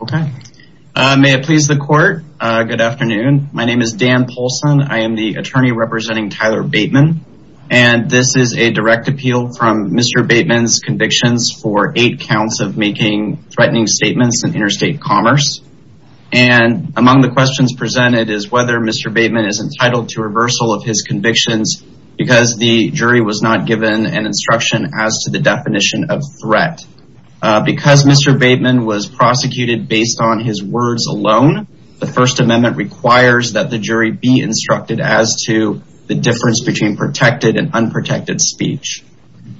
Okay. May it please the court. Good afternoon. My name is Dan Polson. I am the attorney representing Tyler Bateman. And this is a direct appeal from Mr. Bateman's convictions for eight counts of making threatening statements in interstate commerce. And among the questions presented is whether Mr. Bateman is entitled to reversal of his convictions because the jury was not given an instruction as to the definition of threat. Because Mr. Bateman was prosecuted based on his words alone, the First Amendment requires that the jury be instructed as to the difference between protected and unprotected speech.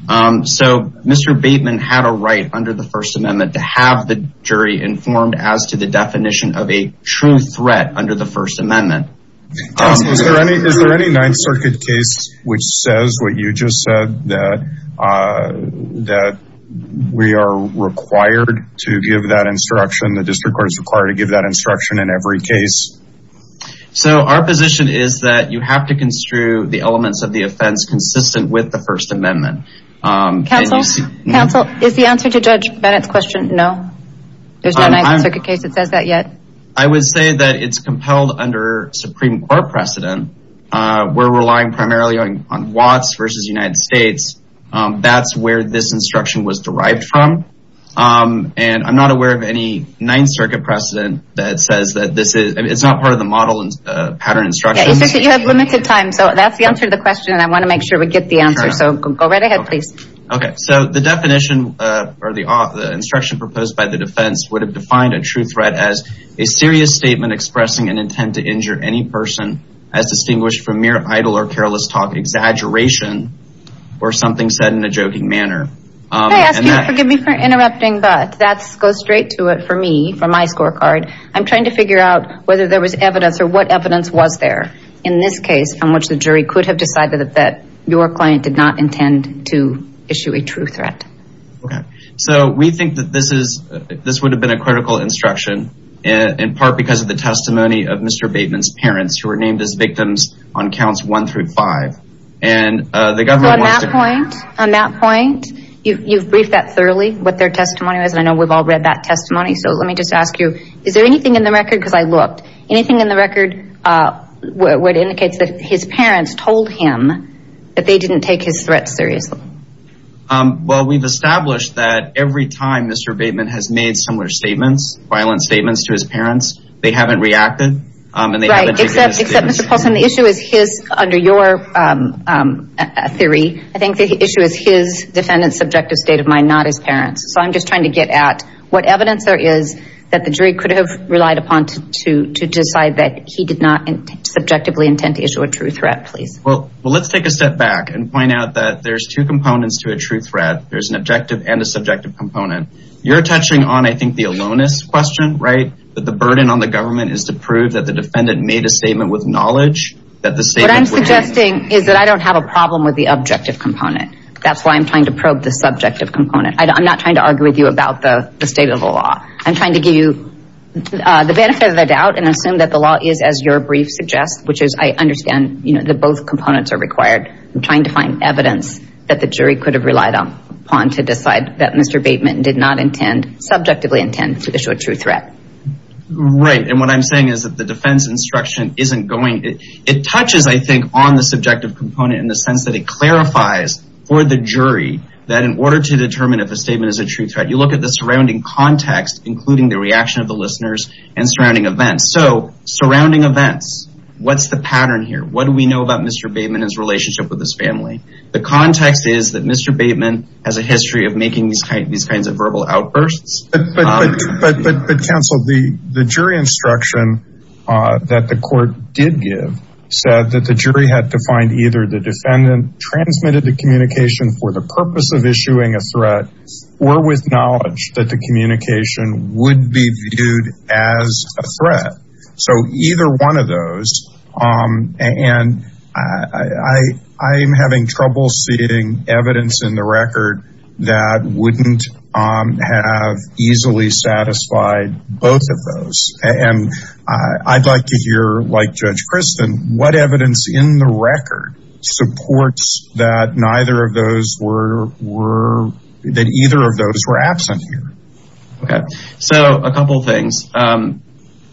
So Mr. Bateman had a right under the First Amendment to have the jury informed as to the definition of a true threat under the First Amendment. Is there any Ninth Circuit case which says what you just said that we are required to give that instruction, the district court is required to give that instruction in every case? So our position is that you have to construe the elements of the offense consistent with the First Amendment. Counsel, is the answer to Judge Bennett's question no? There's no Ninth Circuit under Supreme Court precedent. We're relying primarily on Watts versus United States. That's where this instruction was derived from. And I'm not aware of any Ninth Circuit precedent that says that this is, it's not part of the model and pattern instructions. You have limited time. So that's the answer to the question. And I want to make sure we get the answer. So go right ahead, please. Okay. So the definition or the instruction proposed by the defense would have defined a true threat as a serious statement expressing an intent to injure any person as distinguished from mere idle or careless talk, exaggeration, or something said in a joking manner. I ask you to forgive me for interrupting, but that goes straight to it for me, for my scorecard. I'm trying to figure out whether there was evidence or what evidence was there in this case from which the jury could have decided that your client did not intend to issue a true threat. Okay. So we think that this would have been a critical instruction in part because of the testimony of Mr. Bateman's parents who were named as victims on counts one through five. On that point, you've briefed that thoroughly, what their testimony was. And I know we've all read that testimony. So let me just ask you, is there anything in the record? Because I looked. Anything in the record would indicate that his parents told him that they didn't take his threats seriously? Well, we've established that every time Mr. Bateman has made similar statements, violent statements to his parents, they haven't reacted. Right. Except Mr. Paulson, the issue is his, under your theory, I think the issue is his defendant's subjective state of mind, not his parents. So I'm just trying to get at what evidence there is that the jury could have relied upon to decide that he did not subjectively intend to issue a true threat, please. Well, let's take a step back and point out that there's two components. You're touching on the aloneness question. The burden on the government is to prove that the defendant made a statement with knowledge. What I'm suggesting is that I don't have a problem with the objective component. That's why I'm trying to probe the subjective component. I'm not trying to argue with you about the state of the law. I'm trying to give you the benefit of the doubt and assume that the law is as your brief suggests, which is I understand that both components are required. I'm trying to find evidence that the jury could have relied upon to decide that Mr. Bateman did not intend, subjectively intend to issue a true threat. Right. And what I'm saying is that the defense instruction isn't going, it touches, I think, on the subjective component in the sense that it clarifies for the jury that in order to determine if a statement is a true threat, you look at the surrounding context, including the reaction of the listeners and surrounding events. So surrounding events, what's the pattern here? What do we know about Mr. Bateman and his relationship with his family? The context is that Mr. Bateman has a history of making these kinds of verbal outbursts. But counsel, the jury instruction that the court did give said that the jury had to find either the defendant transmitted the communication for the purpose of issuing a threat or with knowledge that the communication would be viewed as a threat. I'm having trouble seeing evidence in the record that wouldn't have easily satisfied both of those. And I'd like to hear, like Judge Kristen, what evidence in the record supports that neither of those were, that either of those were absent here. Okay. So a couple of things. Um,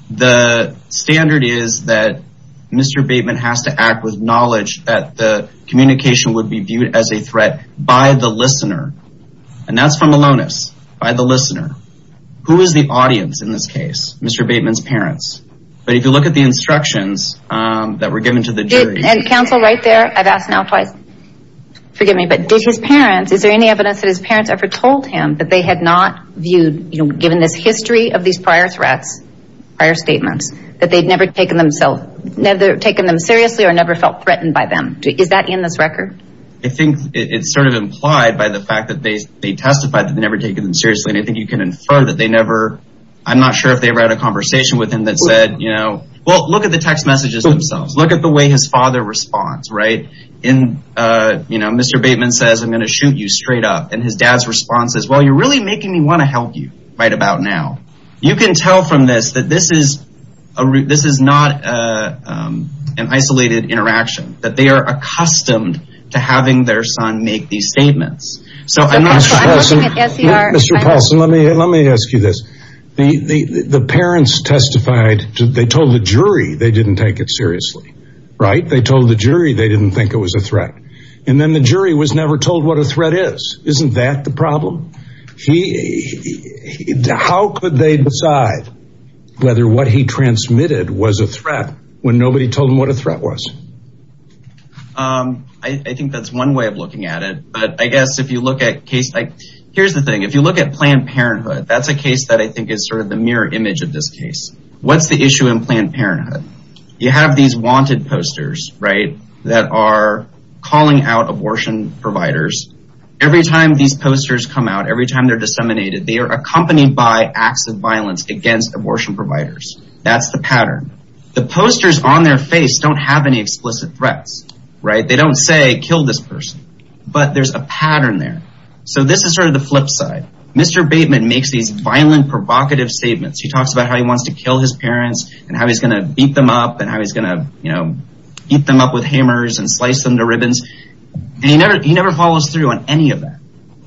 the standard is that Mr. Bateman has to act with knowledge that the communication would be viewed as a threat by the listener. And that's from Malonis, by the listener. Who is the audience in this case? Mr. Bateman's parents. But if you look at the instructions, um, that were given to the jury and counsel right there, I've asked now twice, forgive me, but did his parents, is there any evidence that his parents ever told him that they had not viewed, you know, given this history of these prior threats, prior statements that they'd never taken themselves, never taken them seriously or never felt threatened by them? Is that in this record? I think it's sort of implied by the fact that they, they testified that they never taken them seriously. And I think you can infer that they never, I'm not sure if they ever had a conversation with him that said, you know, well, look at the text messages themselves. Look at the way his father responds, right? In, uh, you know, Mr. Bateman says, I'm going to shoot you straight up. And his dad's response is, well, you're really making me want to help you right about now. You can tell from this, that this is a route. This is not, uh, um, an isolated interaction that they are accustomed to having their son make these statements. So I'm not sure. Mr. Paulson, let me, let me ask you this. The, the, the parents testified to, they told the jury, they didn't take it seriously, right? They told the jury, they didn't think it was a threat. And then the jury was never told what a threat is. Isn't that the problem? He, how could they decide whether what he transmitted was a threat when nobody told him what a threat was? Um, I think that's one way of looking at it, but I guess if you look at case, like, here's the thing, if you look at Planned Parenthood, that's a case that I think is sort of the mirror image of this case. What's the issue in Planned Parenthood, right? That are calling out abortion providers. Every time these posters come out, every time they're disseminated, they are accompanied by acts of violence against abortion providers. That's the pattern. The posters on their face don't have any explicit threats, right? They don't say kill this person, but there's a pattern there. So this is sort of the flip side. Mr. Bateman makes these violent, provocative statements. He talks about how he beat them up with hammers and sliced them to ribbons. And he never, he never follows through on any of that.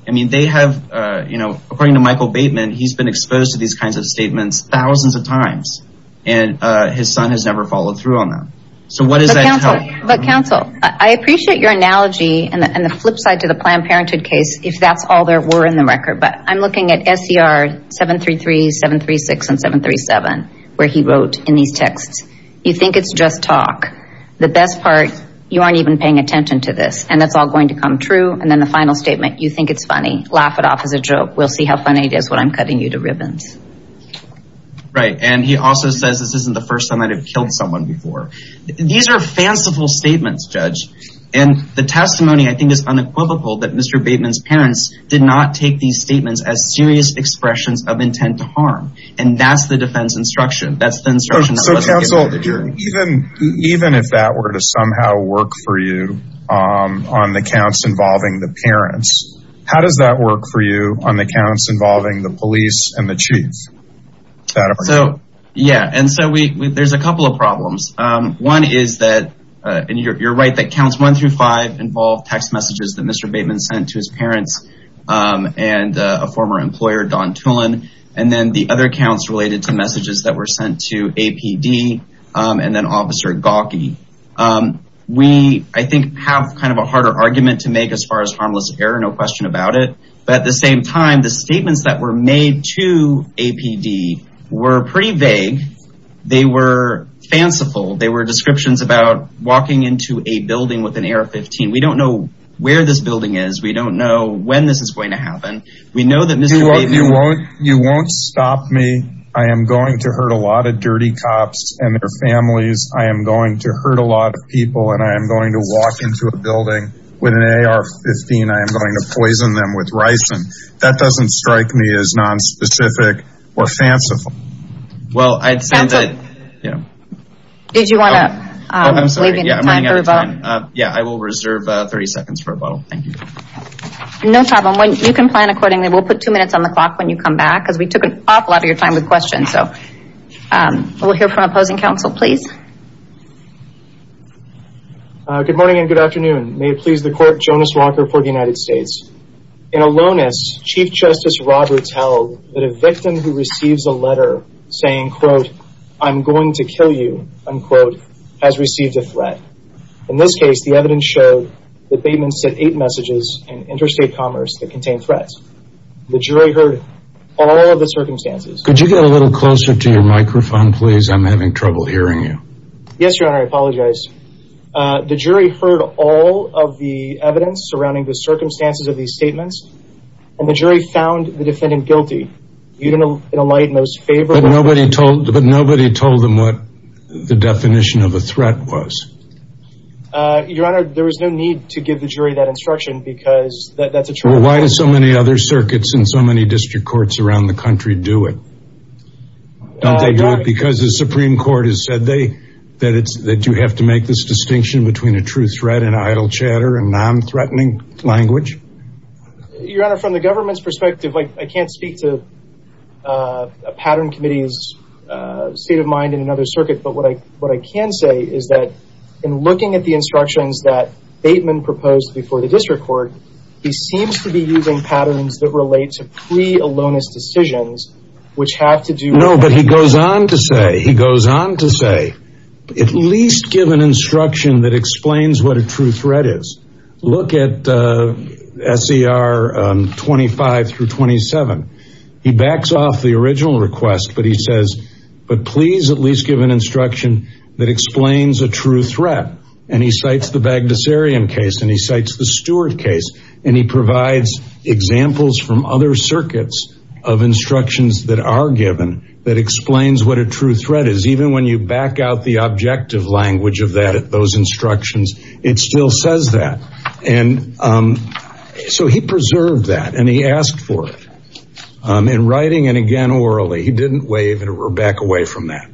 I mean, they have, uh, you know, according to Michael Bateman, he's been exposed to these kinds of statements thousands of times and, uh, his son has never followed through on them. So what does that tell? But counsel, I appreciate your analogy and the flip side to the Planned Parenthood case, if that's all there were in the record, but I'm looking at SCR 733, 736, and 737, where he wrote in these texts, you think it's just talk. The best part, you aren't even paying attention to this and that's all going to come true. And then the final statement, you think it's funny. Laugh it off as a joke. We'll see how funny it is when I'm cutting you to ribbons. Right. And he also says, this isn't the first time I'd have killed someone before. These are fanciful statements, judge. And the testimony I think is unequivocal that Mr. Bateman's parents did not take these statements as serious expressions of intent to harm. And that's the defense instruction. That's the instruction. So counsel, even, even if that were to somehow work for you, um, on the counts involving the parents, how does that work for you on the counts involving the police and the chief? So, yeah. And so we, there's a couple of problems. Um, one is that, uh, and you're, right. That counts one through five involve text messages that Mr. Bateman sent to his parents. Um, and, uh, a former employer, Don Tulin, and then the other counts related to messages that were sent to APD, um, and then officer Gawkey. Um, we, I think have kind of a harder argument to make as far as harmless error, no question about it. But at the same time, the statements that were made to APD were pretty vague. They were fanciful. They were descriptions about walking into a building with an AR-15. We don't know where this building is. We don't know when this is going to happen. We know that Mr. Bateman... You won't stop me. I am going to hurt a lot of dirty cops and their families. I am going to hurt a lot of people and I am going to walk into a building with an AR-15. I am going to poison them with ricin. That doesn't strike me as nonspecific or fanciful. Well, I'd say that, you know... Did you want to, um, leave any time for a vote? Yeah, I will reserve 30 seconds for a vote. Thank you. No problem. You can plan accordingly. We'll put two minutes on the clock when you come back because we took an awful lot of your time with questions. So, um, we'll hear from opposing counsel, please. Uh, good morning and good afternoon. May it please the court, Jonas Walker for the United States. In Alonis, Chief Justice Roberts held that a victim who receives a letter saying, quote, I'm going to kill you, unquote, has received a threat. In this case, the evidence showed that Bateman sent eight messages in interstate commerce that contained threats. The jury heard all of the circumstances. Could you get a little closer to your microphone, please? I'm having trouble hearing you. Yes, your honor. I apologize. Uh, the jury heard all of the evidence surrounding the found the defendant guilty. You didn't enlighten those favors. But nobody told, but nobody told them what the definition of a threat was. Uh, your honor, there was no need to give the jury that instruction because that's a true... Why do so many other circuits and so many district courts around the country do it? Don't they do it because the Supreme Court has said they, that it's, that you have to make this distinction between a true threat and idle I can't speak to, uh, a pattern committee's, uh, state of mind in another circuit. But what I, what I can say is that in looking at the instructions that Bateman proposed before the district court, he seems to be using patterns that relate to pre-Alonis decisions, which have to do... No, but he goes on to say, he goes on to say, at least give an instruction that explains what a true threat is. Look at, uh, SCR, um, 25 through 27. He backs off the original request, but he says, but please at least give an instruction that explains a true threat. And he cites the Bagdasarian case and he cites the Stewart case. And he provides examples from other circuits of instructions that are given that explains what a objective language of that, those instructions, it still says that. And, um, so he preserved that and he asked for it, um, in writing and again, orally, he didn't wave it back away from that.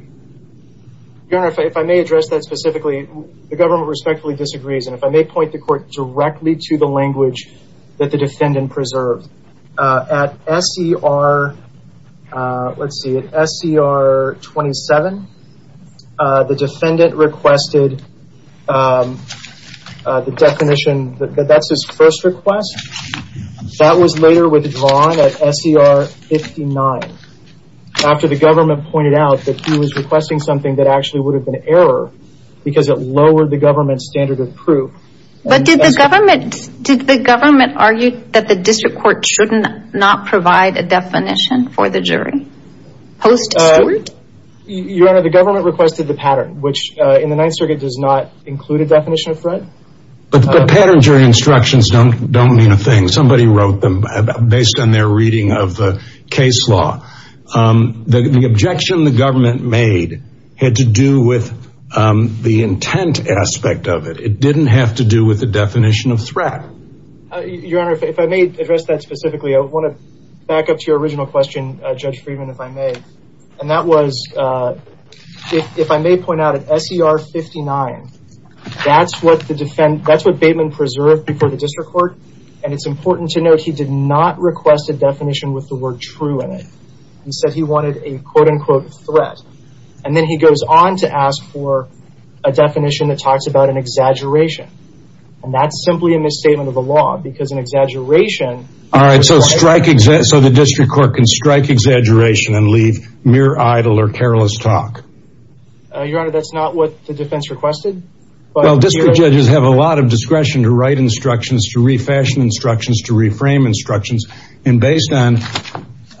Your Honor, if I may address that specifically, the government respectfully disagrees. And if I may point the court directly to the language that the defendant preserved, uh, at SCR, uh, let's the defendant requested, um, uh, the definition that that's his first request that was later withdrawn at SCR 59 after the government pointed out that he was requesting something that actually would have been error because it lowered the government standard of proof. But did the government, did the government argue that the district court shouldn't not provide a definition for the jury? Post Stewart? Your Honor, the government requested the pattern, which, uh, in the ninth circuit does not include a definition of threat. But the pattern jury instructions don't, don't mean a thing. Somebody wrote them based on their reading of the case law. Um, the objection the government made had to do with, um, the intent aspect of it. It didn't have to do with the definition of threat. Your Honor, if I may address that specifically, I want to back up to the original question, uh, Judge Friedman, if I may. And that was, uh, if, if I may point out at SCR 59, that's what the defendant, that's what Bateman preserved before the district court. And it's important to note, he did not request a definition with the word true in it. He said he wanted a quote unquote threat. And then he goes on to ask for a definition that talks about an exaggeration. And that's simply a misstatement of the law because an exaggeration. All right, so strike, so the district court can strike exaggeration and leave mere idle or careless talk. Uh, Your Honor, that's not what the defense requested. Well, district judges have a lot of discretion to write instructions, to refashion instructions, to reframe instructions. And based on,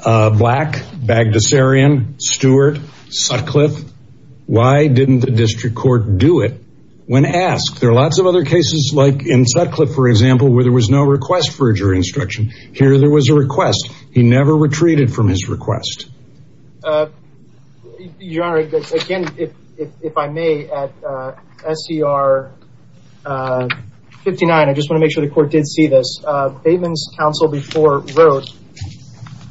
uh, Black, Bagdasarian, Stewart, Sutcliffe, why didn't the district court do it when asked? There are lots of other cases like in Sutcliffe, for example, where there was no request for instruction. Here, there was a request. He never retreated from his request. Uh, Your Honor, again, if, if, if I may, at, uh, SCR, uh, 59, I just want to make sure the court did see this. Uh, Bateman's counsel before wrote,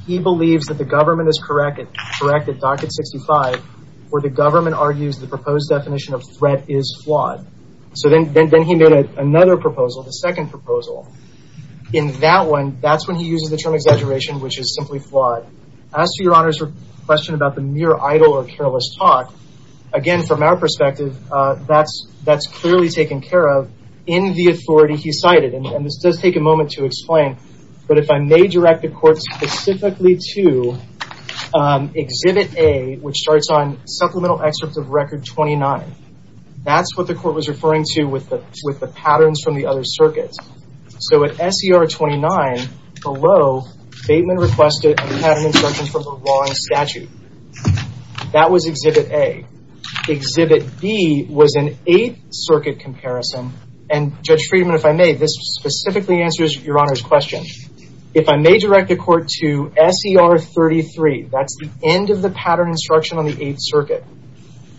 he believes that the government is correct at, correct at docket 65, where the government argues the proposed definition of threat is flawed. So then, then, then he made a, another proposal, the second proposal. In that one, that's when he uses the term exaggeration, which is simply flawed. As to Your Honor's question about the mere idle or careless talk, again, from our perspective, uh, that's, that's clearly taken care of in the authority he cited. And this does take a moment to explain, but if I may direct the court specifically to, um, exhibit A, which starts on supplemental excerpt of record 29. That's what the court was referring to with the, with the patterns from the other circuits. So at SCR 29, below, Bateman requested a pattern instruction from a wrong statute. That was exhibit A. Exhibit B was an eighth circuit comparison. And Judge Friedman, if I may, this specifically answers Your Honor's question. If I may direct the court to SCR 33, that's the end of the pattern instruction on the eighth circuit.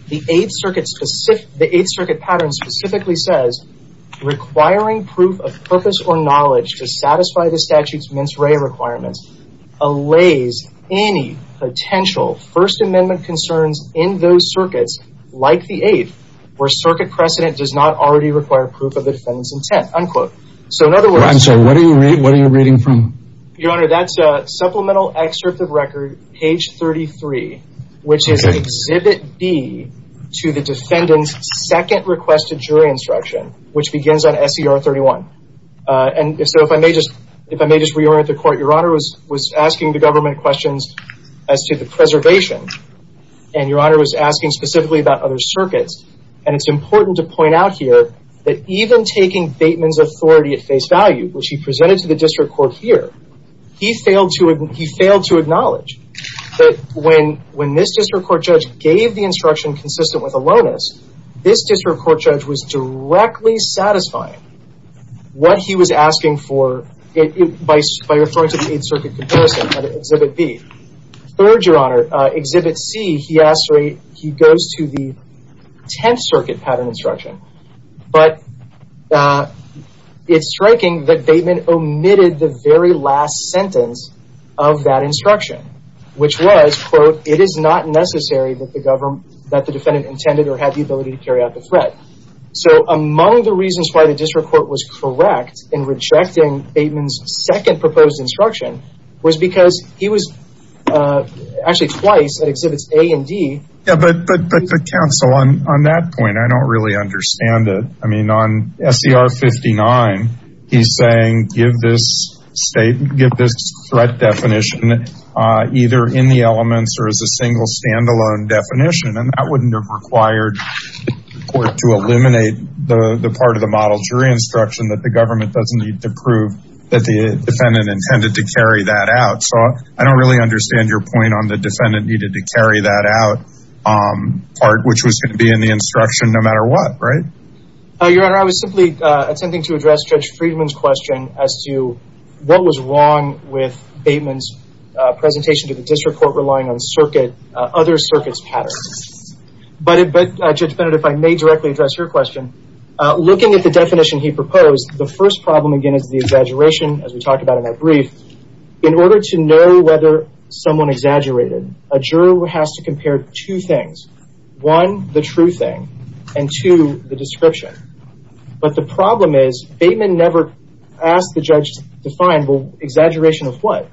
The eighth circuit specific, the eighth circuit pattern specifically says, requiring proof of purpose or knowledge to satisfy the statute's mince ray requirements, allays any potential first amendment concerns in those circuits, like the eighth, where circuit precedent does not already require proof of the defendant's intent, unquote. So in other words, I'm sorry, what are you reading from? Your Honor, that's a supplemental excerpt of record page 33, which is exhibit B to the defendant's second requested jury instruction, which begins on SCR 31. And so if I may just, if I may just reorient the court, Your Honor was asking the government questions as to the preservation. And Your Honor was asking specifically about other circuits. And it's important to point out here that even taking Bateman's authority at face value, which he presented to the district court here, he failed to acknowledge that when this district court judge gave the instruction consistent with Alonis, this district court judge was directly satisfying what he was asking for by referring to the eighth circuit comparison at exhibit B. Third, Your Honor, exhibit C, he goes to the tenth circuit pattern instruction. But it's striking that Bateman omitted the very last sentence of that instruction, which was, quote, it is not necessary that the defendant intended or had the ability to carry out the threat. So among the reasons why the district court was correct in rejecting Bateman's second proposed instruction was because he was actually twice at exhibits A and D. Yeah, but the counsel on that point, I don't really understand it. I mean, on SCR 59, he's saying, give this threat definition either in the elements or as a single standalone definition. And that wouldn't have required the court to eliminate the part of the model jury instruction that the government doesn't need to prove that the defendant intended to carry that out. So I don't really understand your point on the defendant needed to carry that out part, which was going to be in the instruction no matter what, right? Your Honor, I was simply attempting to address Judge Friedman's question as to what was wrong with Bateman's presentation to the district court relying on circuit, other circuits patterns. But Judge Bennett, if I may directly address your question, looking at the definition he proposed, the first problem, again, is the exaggeration, as we talked about in that brief. In order to whether someone exaggerated, a juror has to compare two things. One, the true thing, and two, the description. But the problem is Bateman never asked the judge to find, well, exaggeration of what?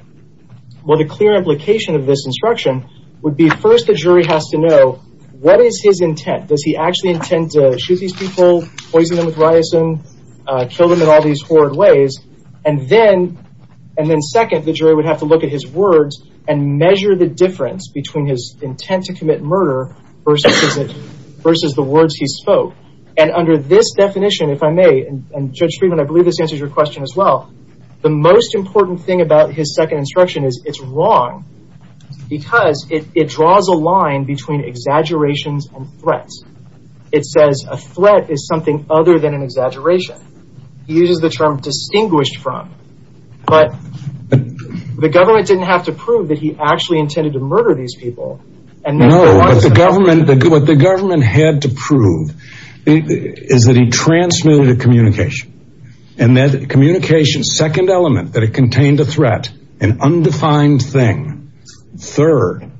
Well, the clear implication of this instruction would be first the jury has to know what is his intent? Does he actually intend to shoot these people, poison them with his words, and measure the difference between his intent to commit murder versus the words he spoke? And under this definition, if I may, and Judge Friedman, I believe this answers your question as well, the most important thing about his second instruction is it's wrong because it draws a line between exaggerations and threats. It says a threat is something other than an he actually intended to murder these people. No, what the government had to prove is that he transmitted a communication. And that communication's second element, that it contained a threat, an undefined thing. Third,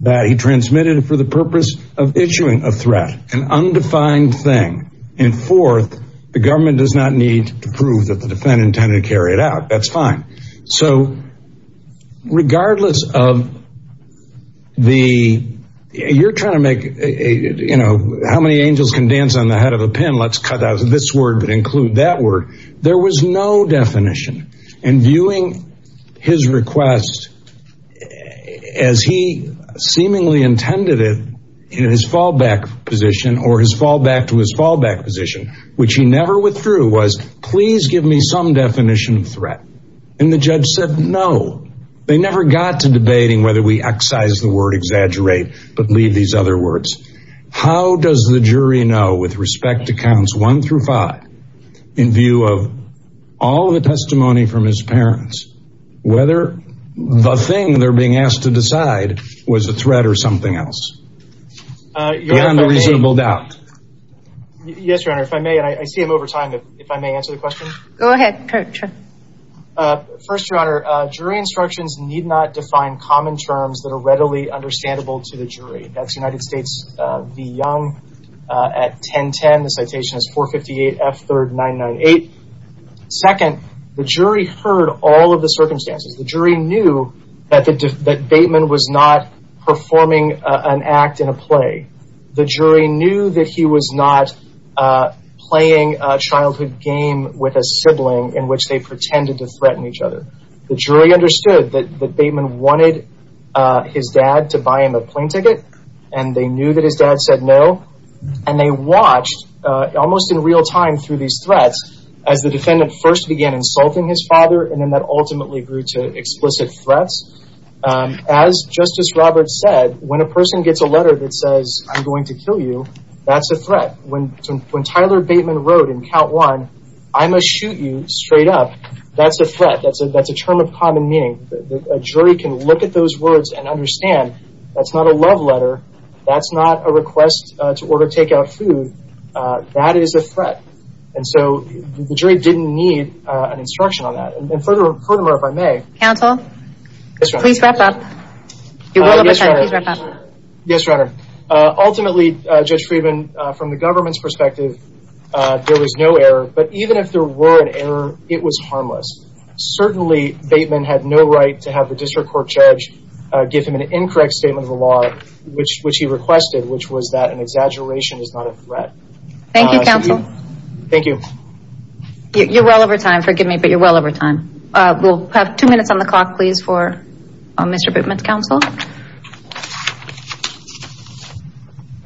that he transmitted it for the purpose of issuing a threat, an undefined thing. And fourth, the government does not need to prove that the regardless of the, you're trying to make a, you know, how many angels can dance on the head of a pin? Let's cut out this word, but include that word. There was no definition. And viewing his request as he seemingly intended it in his fallback position or his fallback to his fallback position, which he never withdrew, was please give me some definition of threat. And the judge said no. They never got to debating whether we excise the word exaggerate, but leave these other words. How does the jury know with respect to counts one through five, in view of all the testimony from his parents, whether the thing they're being asked to decide was a threat or something else? You're under reasonable doubt. Yes, your honor, if I may, and I see him over time, if I may answer the question. Go ahead. First, your honor, jury instructions need not define common terms that are readily understandable to the jury. That's United States v. Young at 1010. The citation is 458 F3rd 998. Second, the jury heard all of the circumstances. The jury knew that Bateman was not performing an act in a play. The jury knew that he was not playing a childhood game with a sibling in which they pretended to threaten each other. The jury understood that Bateman wanted his dad to buy him a plane ticket, and they knew that his dad said no. And they watched almost in real time through these threats as the defendant first began insulting his father, and then that ultimately grew to explicit threats. As Justice Roberts said, when a person gets a letter that says, I'm going to kill you, that's a threat. When Tyler Bateman wrote in count one, I must shoot you, straight up, that's a threat. That's a term of common meaning. A jury can look at those words and understand that's not a love letter, that's not a request to order takeout food. That is a threat. And so the jury didn't need an instruction on that. And furthermore, if I may... Counsel? Yes, Your Honor. Please wrap up. You're well over time. Yes, Your Honor. Ultimately, Judge Friedman, from the government's perspective, there was no error, but even if there were an error, it was harmless. Certainly, Bateman had no right to have the district court judge give him an incorrect statement of the law, which he requested, which was that an exaggeration is not a threat. Thank you, counsel. Thank you. You're well over time, forgive me, but you're well over time. We'll have two minutes on the clock, please, for Mr. Bateman's counsel.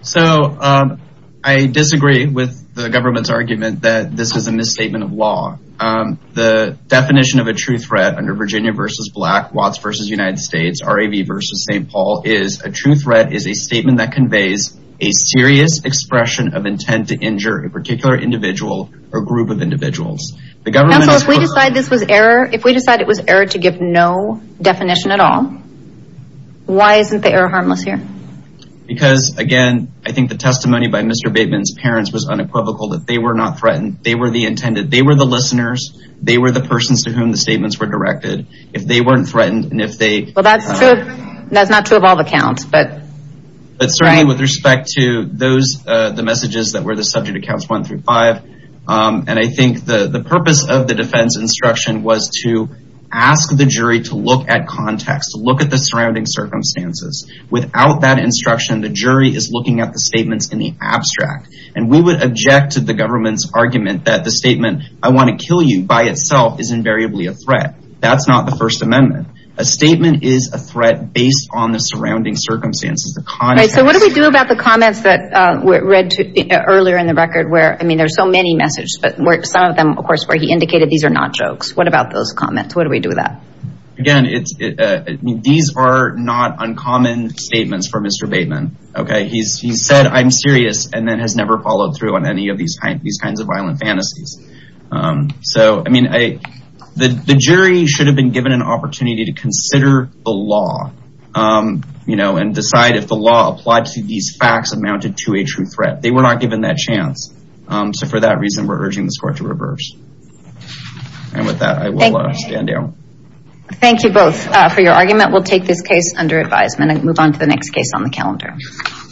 So, I disagree with the government's argument that this is a misstatement of law. The definition of a true threat under Virginia v. Black, Watts v. United States, RAV v. St. Paul, is a true threat is a statement that conveys a serious expression of intent to counsel. If we decide this was error, if we decide it was error to give no definition at all, why isn't the error harmless here? Because, again, I think the testimony by Mr. Bateman's parents was unequivocal that they were not threatened. They were the intended. They were the listeners. They were the persons to whom the statements were directed. If they weren't threatened, and if they... Well, that's true. That's not true of all the counts, but... But certainly with respect to those, the messages that were the subject accounts one through five, and I think the purpose of the defense instruction was to ask the jury to look at context, to look at the surrounding circumstances. Without that instruction, the jury is looking at the statements in the abstract, and we would object to the government's argument that the statement, I want to kill you, by itself is invariably a threat. That's not the First Amendment. A statement is a threat based on the surrounding circumstances, the context. So, what do we do about the comments that were read earlier in the record where, I mean, there's so many messages, but some of them, of course, where he indicated these are not jokes. What about those comments? What do we do with that? Again, these are not uncommon statements for Mr. Bateman, okay? He said, I'm serious, and then has never followed through on any of these kinds of violent fantasies. So, I mean, the jury should have been given an opportunity to consider the law, and decide if the law applied to these facts amounted to a true threat. They were not given that chance. So, for that reason, we're urging the court to reverse. And with that, I will stand down. Thank you both for your argument. We'll take this case under advisement and move on to the